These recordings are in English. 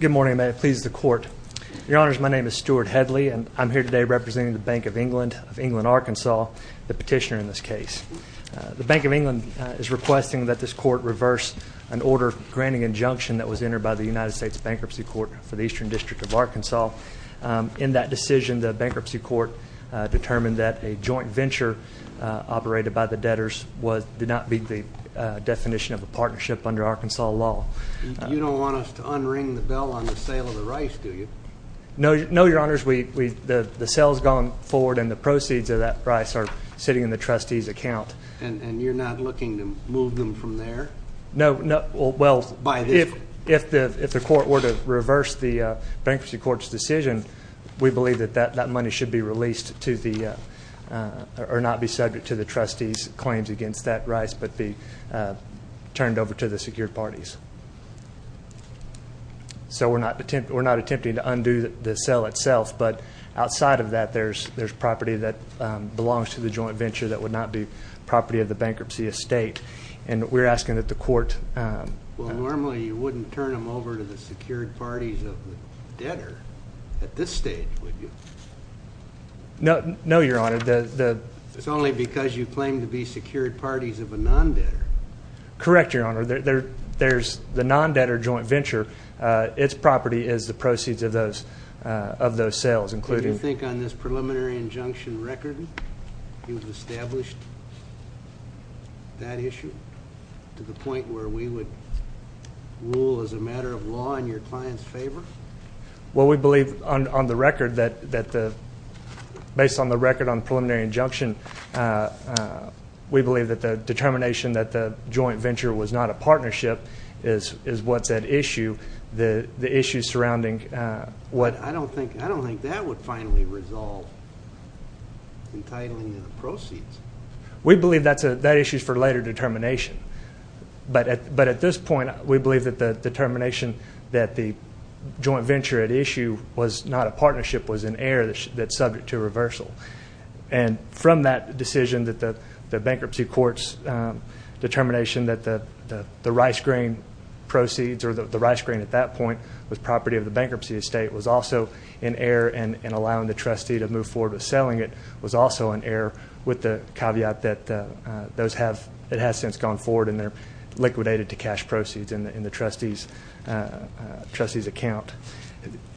Good morning. May it please the Court. Your Honors, my name is Stuart Headley, and I'm here today representing the Bank of England of England, Arkansas, the petitioner in this case. The Bank of England is requesting that this Court reverse an order granting injunction that was entered by the United States Bankruptcy Court for the Eastern District of Arkansas. In that decision, the Bankruptcy Court determined that a joint venture operated by the debtors did not meet the definition of a partnership under Arkansas law. You don't want us to unring the bell on the sale of the rice, do you? No, Your Honors. The sale has gone forward and the proceeds of that rice are sitting in the trustee's account. And you're not looking to move them from there? No. If the Court were to reverse the Bankruptcy Court's decision, we believe that that money should be released or not be subject to the trustee's claims against that rice, but be turned over to the secured parties. So we're not attempting to undo the sale itself, but outside of that, there's property that belongs to the joint venture that would not be property of the bankruptcy estate. And we're asking that the Court... Well, normally you wouldn't turn them over to the secured parties of the debtor at this stage, would you? No, Your Honor. It's only because you claim to be secured parties of a non-debtor. Correct, Your Honor. The non-debtor joint venture, its property is the proceeds of those sales, including... Do you think on this preliminary injunction record you've established that issue to the point where we would rule as a matter of law in your client's favor? Well, we believe on the record that the... Based on the record on the preliminary injunction, we believe that the determination that the joint venture was not a partnership is what's at issue. The issue surrounding what... I don't think that would finally resolve entitling the proceeds. We believe that issue is for later determination. But at this point, we believe that the determination that the joint venture at issue was not a partnership was an error that's subject to reversal. And from that decision that the bankruptcy court's determination that the rice grain proceeds or the rice grain at that point was property of the bankruptcy estate was also an error and allowing the trustee to move forward with selling it was also an error with the caveat that it has since gone forward and they're liquidated to cash proceeds in the trustee's account.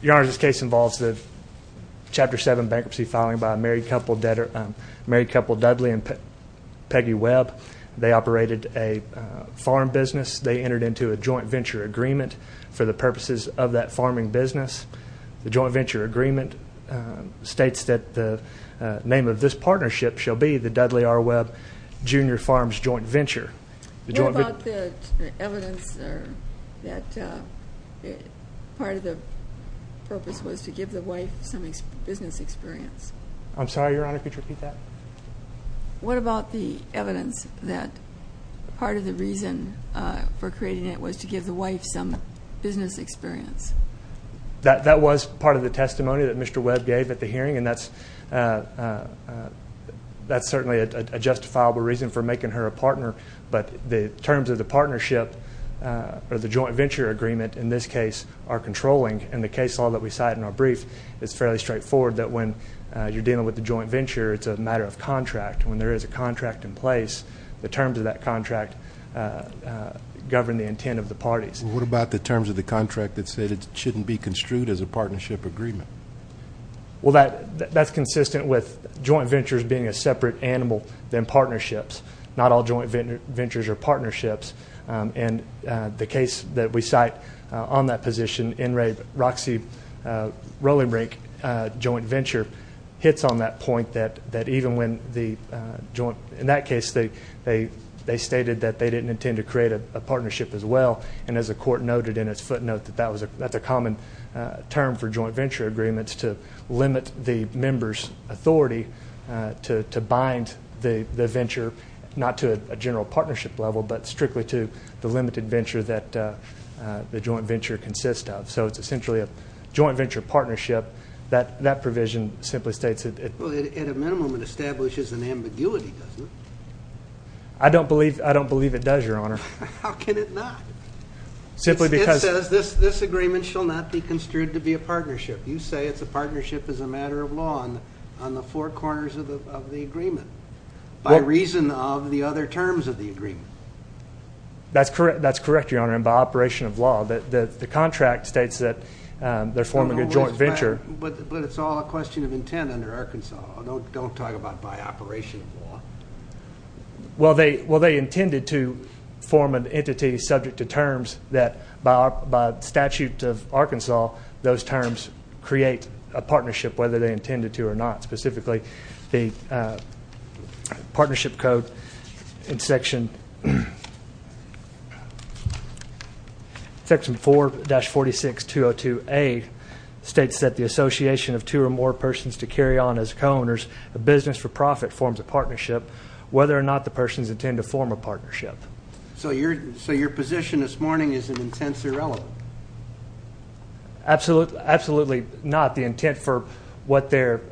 Your Honor, this case involves the Chapter 7 bankruptcy filing by a married couple Dudley and Peggy Webb. They operated a farm business. They entered into a joint venture agreement for the purposes of that farming business. The joint venture agreement states that the name of this partnership shall be the Dudley R. Webb Jr. Farms Joint Venture. What about the evidence that part of the purpose was to give the wife some business experience? I'm sorry, Your Honor, could you repeat that? What about the evidence that part of the reason for creating it was to give the wife some business experience? That was part of the testimony that Mr. Webb gave at the hearing and that's certainly a justifiable reason for making her a partner, but the terms of the partnership or the joint venture agreement in this case are controlling and the case law that we cite in our brief is fairly straightforward that when you're dealing with the joint venture, it's a matter of contract. When there is a contract in place, the terms of that contract govern the intent of the parties. What about the terms of the contract that said it shouldn't be construed as a partnership agreement? Well, that's consistent with joint ventures being a separate animal than partnerships. Not all joint ventures are partnerships. And the case that we cite on that position, N. Ray Roxy Rolling Brink Joint Venture, hits on that point that even when the joint, in that case, they stated that they didn't intend to create a partnership as well. And as the court noted in its footnote that that's a common term for joint venture agreements to limit the member's authority to bind the venture, not to a general partnership level, but strictly to the limited venture that the joint venture consists of. So it's essentially a joint venture partnership that that provision simply states it. Well, at a minimum, it establishes an ambiguity, doesn't it? I don't believe it does, Your Honor. How can it not? It says this agreement shall not be construed to be a partnership. You say it's a partnership as a matter of law on the four corners of the agreement, by reason of the other terms of the agreement. That's correct, Your Honor, and by operation of law. The contract states that they're forming a joint venture. But it's all a question of intent under Arkansas. Don't talk about by operation of law. Well, they intended to form an entity subject to terms that, by statute of Arkansas, those terms create a partnership, whether they intended to or not. Specifically, the partnership code in section 4-46202A states that the association of two or more persons to carry on as co-owners, a business for profit, forms a partnership, whether or not the persons intend to form a partnership. So your position this morning is an intense irrelevant? Absolutely not. The intent for the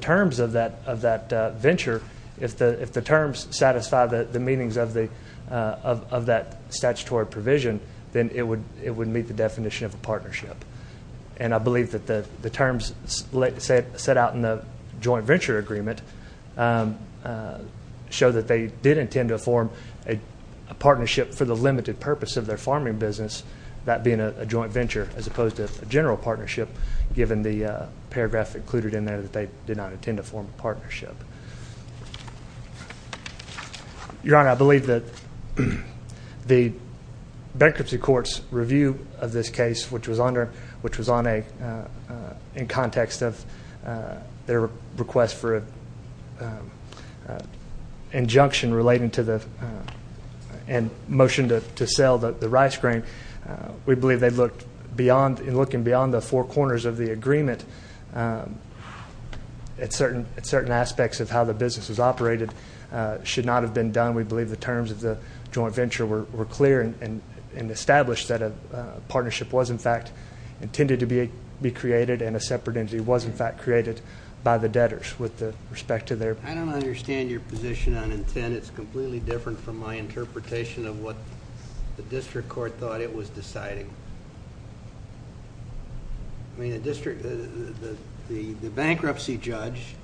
terms of that venture, if the terms satisfy the meanings of that statutory provision, then it would meet the definition of a partnership. And I believe that the terms set out in the joint venture agreement show that they did intend to form a partnership for the limited purpose of their farming business, that being a joint venture, as opposed to a general partnership, given the paragraph included in there that they did not intend to form a partnership. Your Honor, I believe that the bankruptcy court's review of this case, which was in context of their request for an injunction relating to the motion to sell the rice grain, we believe in looking beyond the four corners of the agreement, at certain aspects of how the business was operated, should not have been done. We were clear and established that a partnership was, in fact, intended to be created and a separate entity was, in fact, created by the debtors with respect to their... I don't understand your position on intent. It's completely different from my interpretation of what the district court thought it was deciding. The bankruptcy judge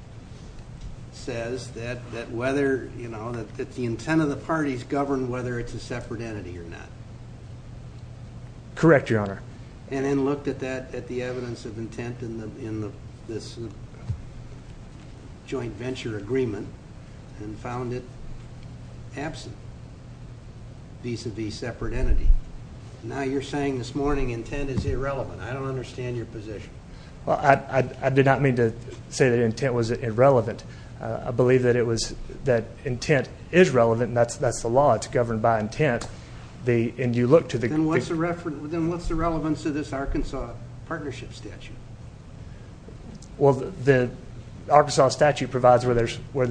says that the intent of the parties governed whether it's a separate entity or not. Correct, Your Honor. And then looked at the evidence of intent in this joint venture agreement and found it absent, vis-a-vis separate entity. Now you're saying this morning intent is irrelevant. I don't understand your position. I did not mean to say that intent was irrelevant. I believe that intent is relevant and that's the law. It's governed by intent. Then what's the relevance to this Arkansas partnership statute? Well, the Arkansas statute provides where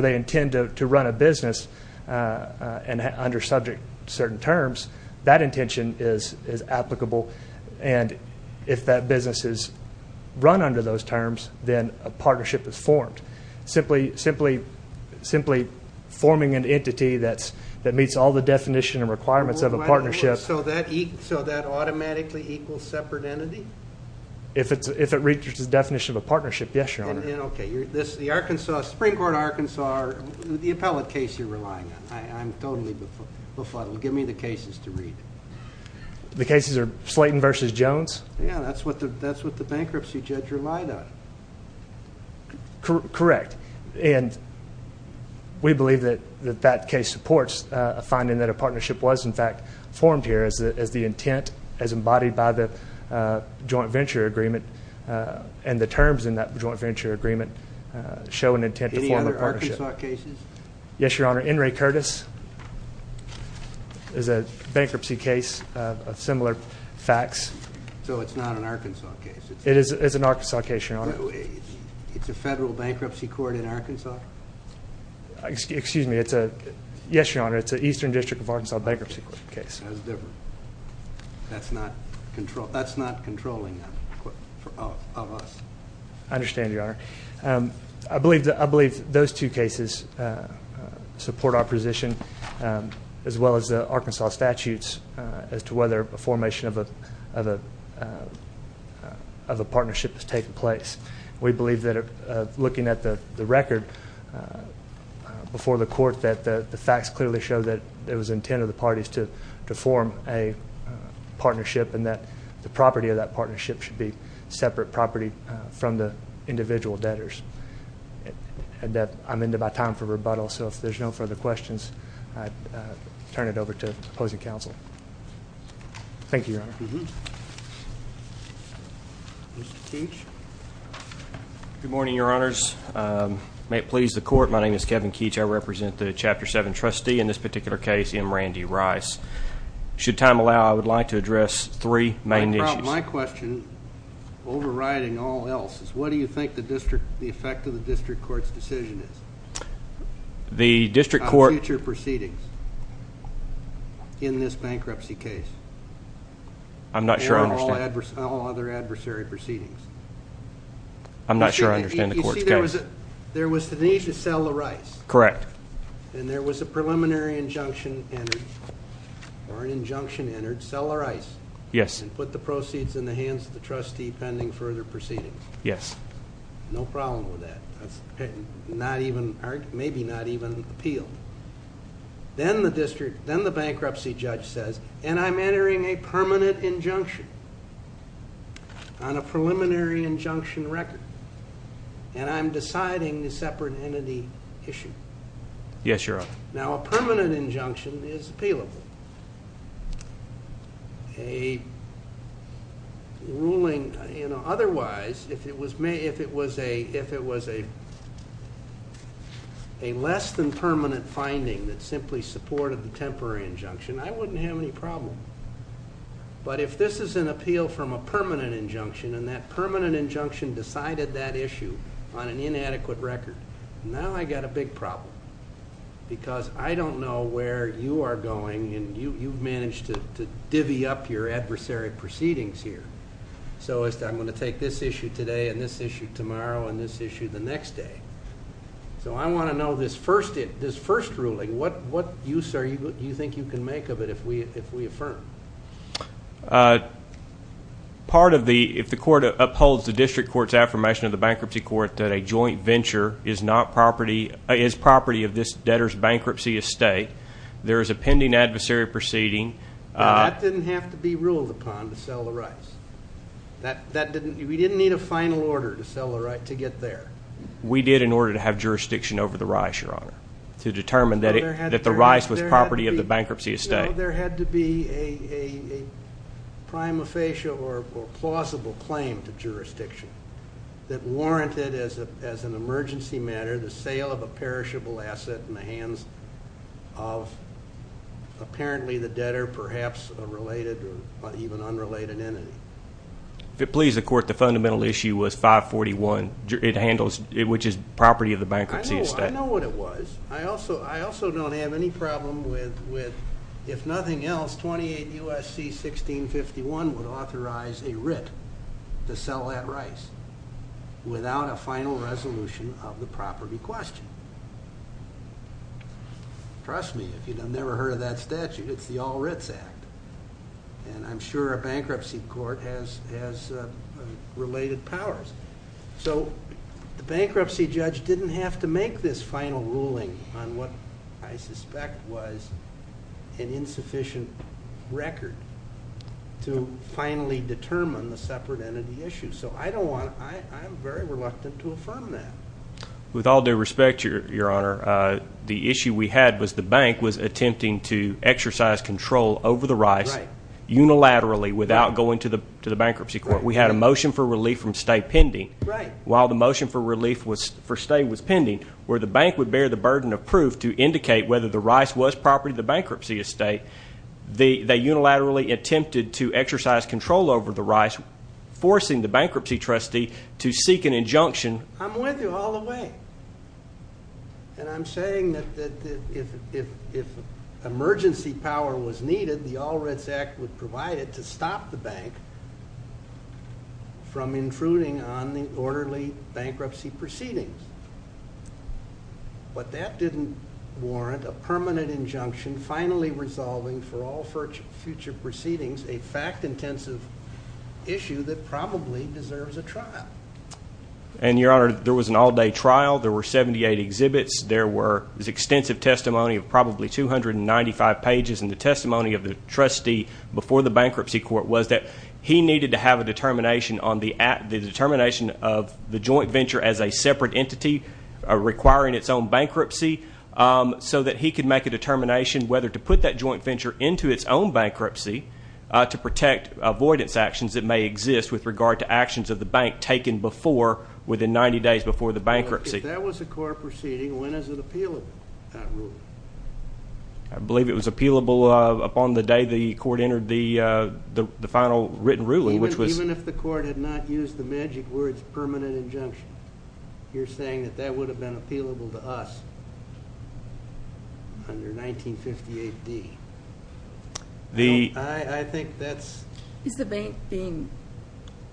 they intend to run a business under subject to certain terms, that intention is applicable. And if that business is run under those terms, then a partnership is formed. Simply forming an entity that meets all the definition and requirements of a partnership... So that automatically equals separate entity? If it reaches the definition of a partnership, yes, Your Honor. Okay. The Arkansas Supreme Court of Arkansas, the appellate case you're relying on, I'm totally befuddled. Give me the cases to read. The cases are Slayton v. Jones? Yeah, that's what the bankruptcy judge relied on. Correct. And we believe that that case supports a finding that a partnership was in fact formed here as the intent as embodied by the joint venture agreement and the terms in that joint venture agreement show an intent to form a partnership. Any other Arkansas cases? Yes, Your Honor. Henry Curtis is a bankruptcy case of similar facts. So it's not an Arkansas case? It is an Arkansas case, Your Honor. It's a federal bankruptcy court in Arkansas? Excuse me, it's a... Yes, Your Honor, it's an Eastern District of Arkansas bankruptcy case. That's not controlling of us. I understand, Your Honor. I believe those two cases support our position as well as the Arkansas statutes as to whether a formation of a partnership has taken place. We believe that looking at the record before the court that the facts clearly show that it was the intent of the parties to form a partnership and that the property of that partnership should be separate property from the individual debtors. I'm in about time for rebuttal, so if there's no further questions, I turn it over to you, Your Honor. Mr. Keech? Good morning, Your Honors. May it please the court, my name is Kevin Keech. I represent the Chapter 7 trustee. In this particular case, M. Randy Rice. Should time allow, I would like to address three main issues. My question, overriding all else, is what do you think the effect of the district court's decision is on future proceedings in this bankruptcy case? I'm not sure I understand. And on all other adversary proceedings. I'm not sure I understand the court's case. You see, there was the need to sell the rice. Correct. And there was a preliminary injunction entered, or an injunction entered, sell the rice. Yes. And put the proceeds in the hands of the trustee pending further appeal. Then the bankruptcy judge says, and I'm entering a permanent injunction on a preliminary injunction record. And I'm deciding the separate entity issue. Yes, Your Honor. Now, a permanent and permanent finding that simply supported the temporary injunction, I wouldn't have any problem. But if this is an appeal from a permanent injunction, and that permanent injunction decided that issue on an inadequate record, now I got a big problem. Because I don't know where you are going, and you've managed to divvy up your adversary proceedings here. So I'm going to take this issue today, and this issue tomorrow, and this issue the next day. So I want to know this first ruling, what use, sir, do you think you can make of it if we affirm? Part of the, if the court upholds the district court's affirmation of the bankruptcy court that a joint venture is property of this debtor's bankruptcy estate, there is a pending adversary proceeding. That didn't have to be ruled upon to sell the rice. That didn't, we didn't need a final order to sell the rice to get there. We did in order to have jurisdiction over the rice, Your Honor, to determine that the rice was property of the bankruptcy estate. No, there had to be a prima facie or plausible claim to jurisdiction that warranted, as an emergency matter, the sale of a perishable asset in the hands of apparently the debtor, perhaps a related or even unrelated entity. If it please the court, the fundamental issue was 541, it handles, which is property of the bankruptcy estate. I know what it was. I also don't have any problem with, if nothing else, 28 U.S.C. 1651 would authorize a writ to sell that rice without a final resolution of the property question. Trust me, if you've never heard of that statute, it's the All Writs Act. And I'm sure a bankruptcy court has related powers. So the bankruptcy judge didn't have to make this final ruling on what I suspect was an insufficient record to finally determine the separate entity issue. So I'm very reluctant to affirm that. With all due respect, Your Honor, the issue we had was the bank was attempting to exercise control over the rice unilaterally without going to the bankruptcy court. We had a motion for relief from state pending. While the motion for relief for state was pending, where the bank would bear the burden of proof to indicate whether the rice was property of the bankruptcy estate, they unilaterally attempted to exercise control over the rice, forcing the bankruptcy trustee to seek an injunction. I'm with you all the way. And I'm saying that if emergency power was needed, the All Writs Act would provide it to stop the bank from intruding on the orderly bankruptcy proceedings. But that didn't warrant a permanent injunction finally resolving for all future proceedings a fact-intensive issue that probably deserves a trial. And, Your Honor, there was an all-day trial. There were 78 exhibits. There were extensive testimony of probably 295 pages. And the testimony of the trustee before the bankruptcy court was that he needed to have a determination on the determination of the joint whether to put that joint venture into its own bankruptcy to protect avoidance actions that may exist with regard to actions of the bank taken before within 90 days before the bankruptcy. If that was a court proceeding, when is it appealable? I believe it was appealable upon the day the court entered the final written ruling. Even if the court had not used the magic words permanent injunction, you're saying that that would have been appealable to us on your 1958 D. I think that's... Is the bank being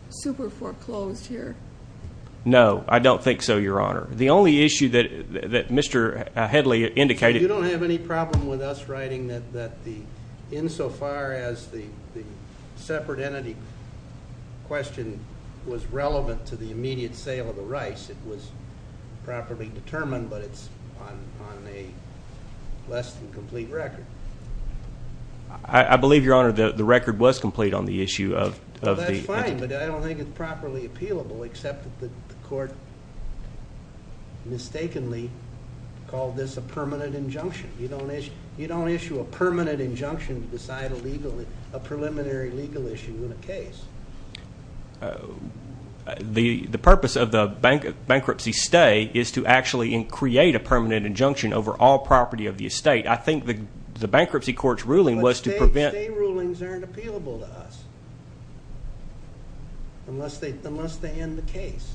super foreclosed here? No, I don't think so, Your Honor. The only issue that Mr. Headley indicated... You don't have any problem with us writing that insofar as the separate entity question was relevant to the on a less than complete record. I believe, Your Honor, that the record was complete on the issue of... That's fine, but I don't think it's properly appealable except that the court mistakenly called this a permanent injunction. You don't issue a permanent injunction to decide a preliminary legal issue in a case. The purpose of the bankruptcy stay is to actually create a injunction over all property of the estate. I think the bankruptcy court's ruling was to prevent... Stay rulings aren't appealable to us unless they end the case.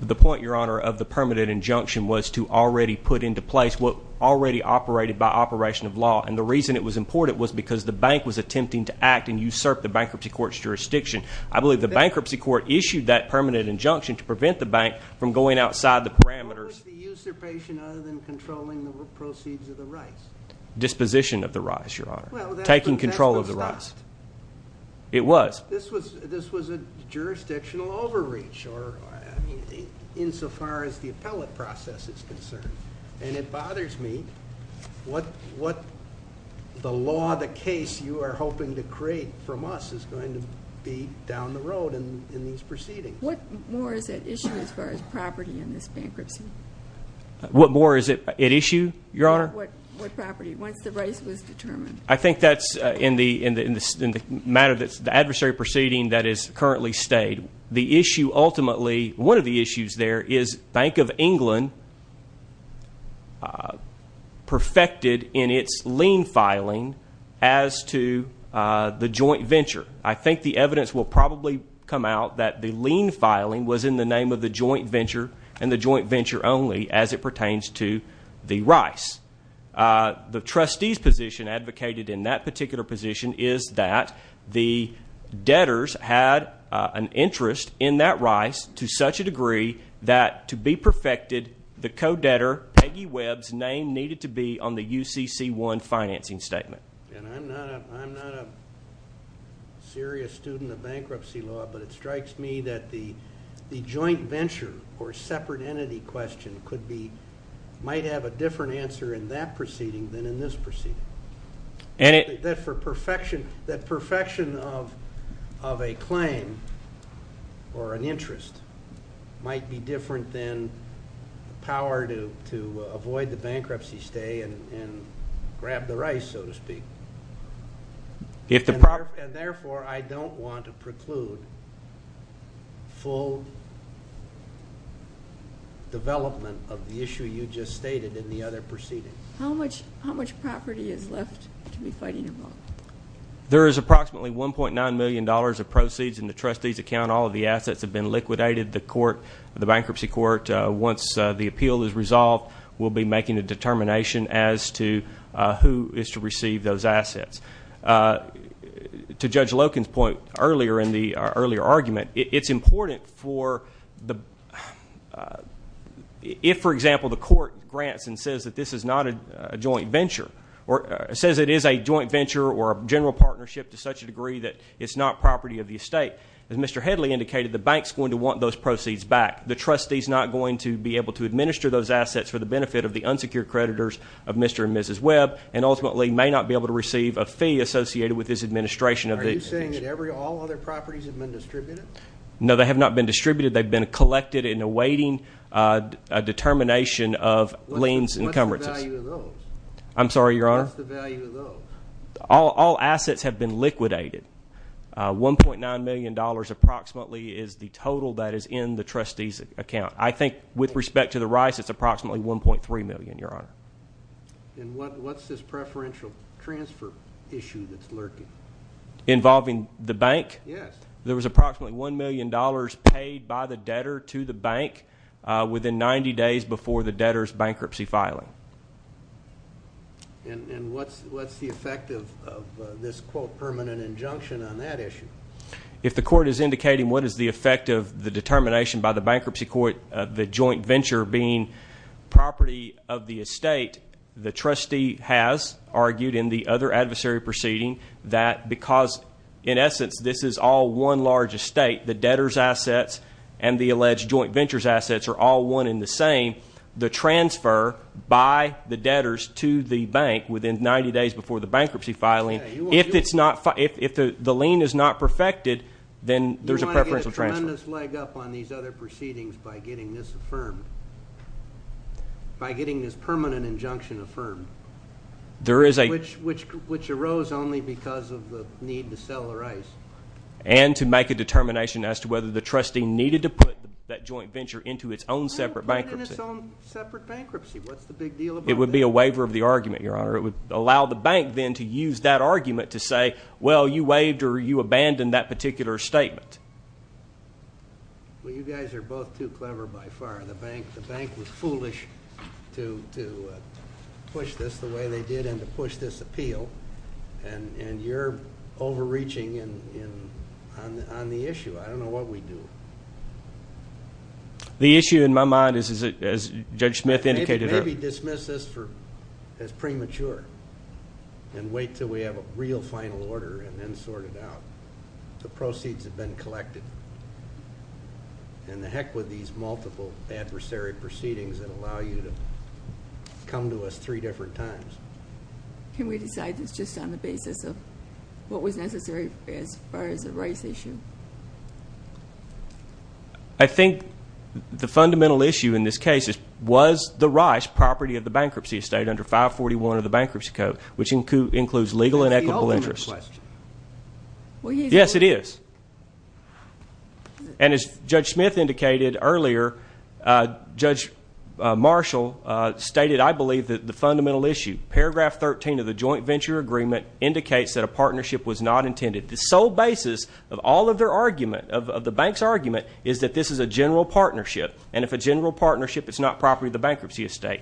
The point, Your Honor, of the permanent injunction was to already put into place what already operated by operation of law, and the reason it was important was because the bank was attempting to act and usurp the bankruptcy court's jurisdiction. I believe the bankruptcy court issued that permanent injunction to prevent the bank from going outside the parameters. It was the usurpation other than controlling the proceeds of the rights. Disposition of the rights, Your Honor. Taking control of the rights. It was. This was a jurisdictional overreach or insofar as the appellate process is concerned, and it bothers me what the law, the case you are hoping to create from us is going to be down the road in these proceedings. What more is at issue as far as property in this bankruptcy? What more is at issue, Your Honor? What property? Once the rights was determined. I think that's in the matter that's the adversary proceeding that is currently stayed. The issue ultimately, one of the issues there is Bank of England perfected in its lien filing as to the joint venture. I think the evidence will probably come out that the lien filing was in the name of the joint venture and the joint venture only as it pertains to the rice. The trustees position advocated in that particular position is that the debtors had an interest in that rice to such a degree that to be perfected, the co-debtor Peggy Webb's name needed to be on the UCC1 financing statement. I'm not a serious student of bankruptcy law, but it strikes me that the joint venture or separate entity question might have a different answer in that proceeding than in this proceeding. That perfection of a claim or an interest might be different than power to avoid the bankruptcy stay and grab the rice, so to speak. And therefore, I don't want to preclude full development of the issue you just stated in the other proceedings. How much property is left to be fighting involved? There is approximately $1.9 million of proceeds in the trustee's account. All of the assets have been liquidated. The bankruptcy court, once the appeal is resolved, will be making a determination as to who is to receive those assets. To Judge Loken's point earlier in the earlier argument, it's important for the-if, for example, the court grants and says that this is not a joint venture or says it is a joint venture or a general partnership to such a degree that it's not of the estate. As Mr. Headley indicated, the bank's going to want those proceeds back. The trustee's not going to be able to administer those assets for the benefit of the unsecured creditors of Mr. and Mrs. Webb and ultimately may not be able to receive a fee associated with his administration of the- Are you saying that all other properties have been distributed? No, they have not been distributed. They've been collected and awaiting a determination of liens and encumbrances. What's the value of those? I'm sorry, Your Honor? What's the value of those? All assets have been liquidated. $1.9 million approximately is the total that is in the trustee's account. I think with respect to the rice, it's approximately $1.3 million, Your Honor. And what's this preferential transfer issue that's lurking? Involving the bank? Yes. There was approximately $1 million paid by the debtor to the bank within 90 days before the debtor's bankruptcy filing. And what's the effect of this, quote, permanent injunction on that issue? If the court is indicating what is the effect of the determination by the bankruptcy court of the joint venture being property of the estate, the trustee has argued in the other adversary proceeding that because, in essence, this is all one large estate, the debtor's assets and the alleged joint venture's assets are all one and the same, the transfer by the debtors to the bank within 90 days before the bankruptcy filing, if the lien is not perfected, then there's a preferential transfer. You want to get a tremendous leg up on these other proceedings by getting this affirmed, by getting this permanent injunction affirmed, which arose only because of the need to sell the rice. And to make a determination as to whether the trustee needed to put that joint venture into its own separate bankruptcy. Put it in its own separate bankruptcy. What's the big deal about that? It would be a waiver of the argument, Your Honor. It would allow the bank, then, to use that argument to say, well, you waived or you abandoned that particular statement. Well, you guys are both too clever by far. The bank was foolish to push this the way they did and to push this appeal and you're overreaching on the issue. I don't know what we do. The issue in my mind is, as Judge Smith indicated- Maybe dismiss this as premature and wait until we have a real final order and then sort it out. The proceeds have been collected. And the heck with these multiple adversary proceedings that allow you to come to us three different times. Can we decide this just on the basis of what was necessary as far as the rice issue? I think the fundamental issue in this case is, was the rice property of the bankruptcy estate under 541 of the Bankruptcy Code, which includes legal and equitable interest? Yes, it is. And as Judge Smith indicated earlier, Judge Marshall stated, I believe, the fundamental issue. Paragraph 13 of the Joint Venture Agreement indicates that a partnership was not intended. The sole basis of all of their argument, of the bank's argument, is that this is a general partnership. And if it's a general partnership, it's not property of the bankruptcy estate.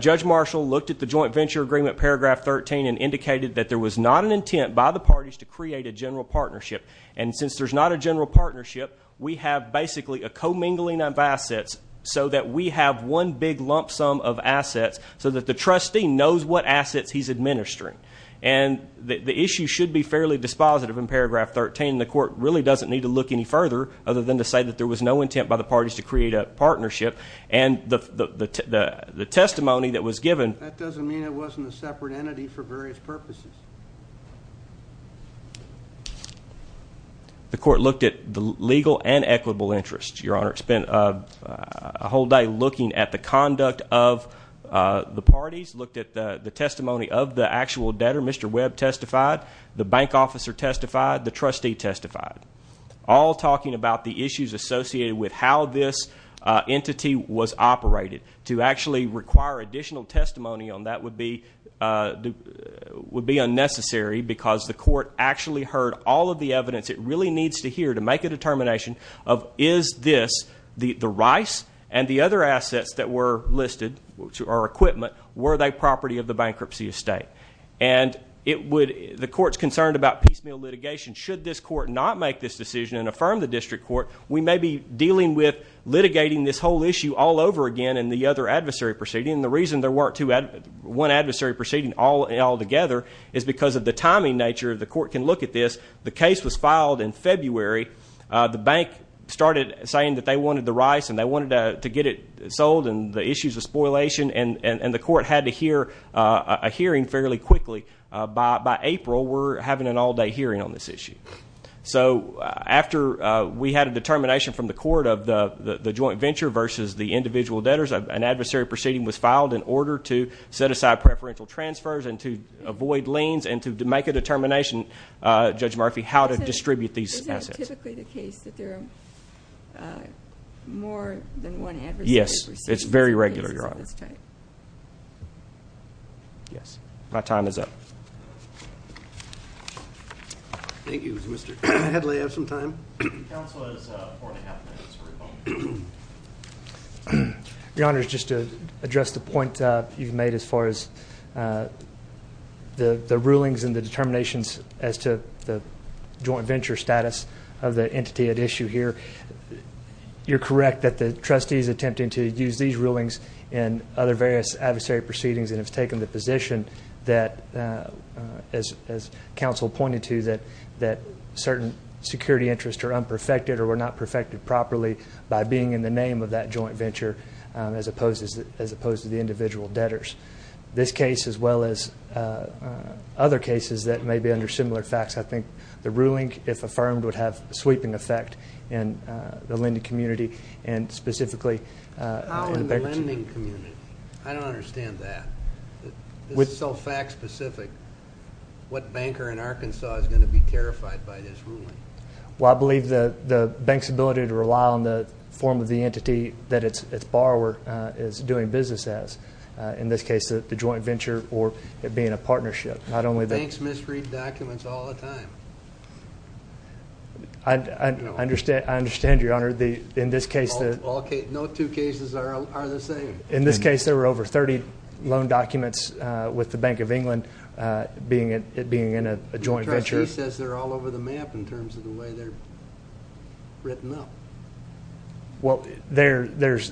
Judge Marshall looked at the Joint Venture Agreement, paragraph 13, and indicated that there was not an intent by the parties to create a general partnership. And since there's not a general partnership, we have basically a commingling of assets so that we have one big lump sum of assets so that the trustee knows what assets he's administering. And the issue should be fairly dispositive in paragraph 13. The court really doesn't need to look any further other than to say that there was no intent by the parties to create a partnership. And the testimony that was given... That doesn't mean it wasn't a separate entity for various purposes. The court looked at the legal and equitable interests, Your Honor. It spent a whole day looking at the conduct of the parties. Looked at the testimony of the actual debtor. Mr. Webb testified. The bank officer testified. The trustee testified. All talking about the issues associated with how this entity was operated. To actually require additional testimony on that would be unnecessary because the court actually heard all of the evidence it really needs to hear to make a determination of, is this the rice and the other assets that were listed, or equipment, were they property of the bankruptcy estate? And it would... The court's concerned about piecemeal litigation. Should this court not make this decision and affirm the district court, we may be dealing with litigating this whole issue all over again in the other adversary proceeding. The reason there weren't two... One adversary proceeding all together is because of the timing nature. The court can look at this. The case was filed in February. The bank started saying that they wanted the rice and they wanted to get it sold and the issues of spoilation. And the court had to hear a hearing fairly quickly. By April, we're having an all-day hearing on this issue. So, after we had a determination from the court of the joint venture versus the individual debtors, an adversary proceeding was filed in order to set aside preferential transfers and to avoid liens and to make a determination, Judge Murphy, how to distribute these assets. Is that typically the case that there are more than one adversary proceeding? Yes. It's very regular, Your Honor. Yes. My time is up. Thank you, Mr. Headley. I have some time. Counsel has four and a half minutes for a moment. Your Honor, just to address the point you've made as far as the rulings and the determinations as to the joint venture status of the entity at issue here, you're correct that the trustee is attempting to use these rulings and other various adversary proceedings and has taken the position that, as counsel pointed to, that certain security interests are unperfected or were not perfected properly by being in the name of that joint venture as opposed to the individual debtors. This case, as well as other cases that may be under similar facts, I think the ruling, if affirmed, would have a sweeping effect in the lending community and specifically in the bankruptcy. How in the lending community? I don't understand that. This is so fact specific. What banker in Arkansas is going to be terrified by this ruling? Well, I believe the bank's ability to rely on the form of the entity that its borrower is doing business as. In this case, the joint venture or it being a partnership. Not only the- Banks misread documents all the time. I understand, Your Honor. No two cases are the same. In this case, there were over 30 loan documents with the Bank of England being in a joint venture. The trustee says they're all over the map in terms of the way they're written up. Well, there's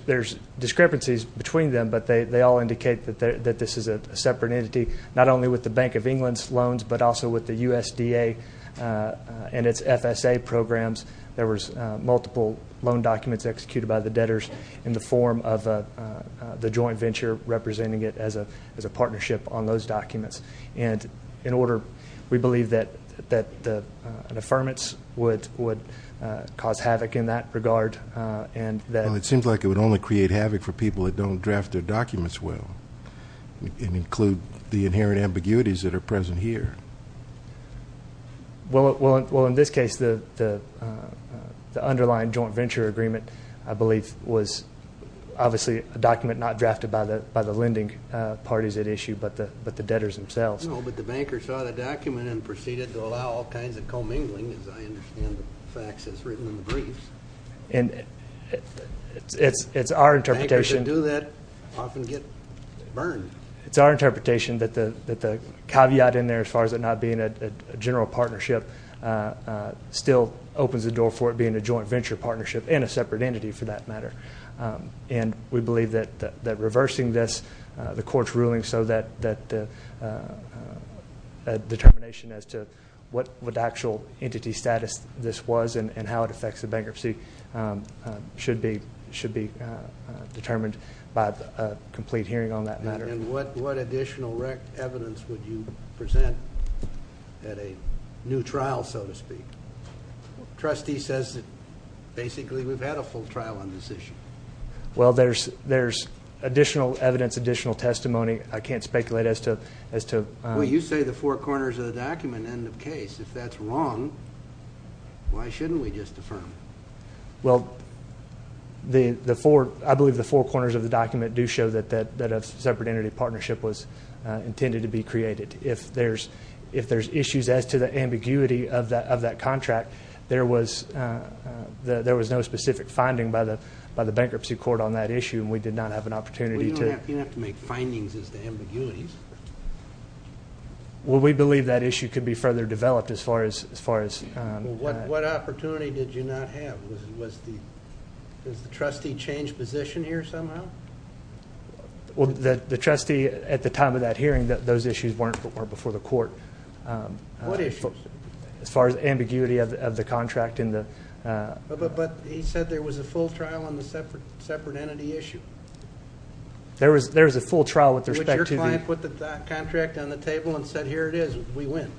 discrepancies between them, but they all indicate that this is a separate entity, not only with the Bank of England's loans, but also with the USDA and its FSA programs. There was multiple loan documents executed by the debtors in the form of the joint venture representing it as a partnership on those documents. In order, we believe that an affirmance would cause havoc in that regard. It seems like it would only create havoc for people that don't draft their documents well and include the inherent ambiguities that are present here. Well, in this case, the underlying joint venture agreement, I believe, was obviously a document not drafted by the lending parties at issue, but the debtors themselves. But the banker saw the document and proceeded to allow all kinds of commingling, as I understand the facts as written in the briefs. And it's our interpretation- Bankers that do that often get burned. It's our interpretation that the caveat in there, as far as it not being a general partnership, still opens the door for it being a joint venture partnership and a separate entity, for that matter. And we believe that reversing this, the court's ruling, so that a determination as to what actual entity status this was and how it affects the bankruptcy should be determined by a complete hearing on that matter. What additional evidence would you present at a new trial, so to speak? Trustee says that basically we've had a full trial on this issue. Well, there's additional evidence, additional testimony. I can't speculate as to- Well, you say the four corners of the document end of case. If that's wrong, why shouldn't we just affirm it? Well, I believe the four corners of the document do show that a separate entity partnership was intended to be created. If there's issues as to the ambiguity of that contract, there was no specific finding by the bankruptcy court on that issue, and we did not have an opportunity to- Well, you don't have to make findings as to ambiguities. Well, we believe that issue could be further developed as far as- What opportunity did you not have? Was the trustee change position here somehow? Well, the trustee at the time of that hearing, those issues weren't before the court. What issues? As far as ambiguity of the contract in the- But he said there was a full trial on the separate entity issue. There was a full trial with respect to the- Which your client put the contract on the table and said, here it is, we win.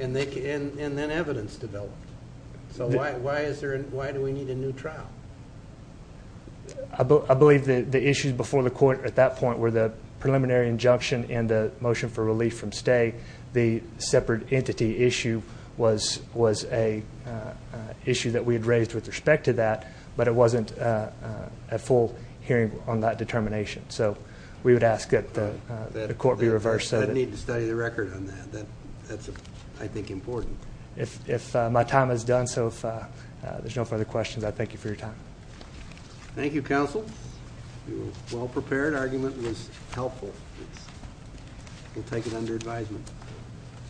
And then evidence developed. So why do we need a new trial? I believe the issues before the court at that point were the preliminary injunction and the motion for relief from stay. The separate entity issue was an issue that we had raised with respect to that, but it wasn't a full hearing on that determination. So we would ask that the court be reversed. I'd need to study the record on that. That's, I think, important. If my time is done, so if there's no further questions, I thank you for your time. Thank you, counsel. You were well prepared. Argument was helpful. We'll take it under advisement.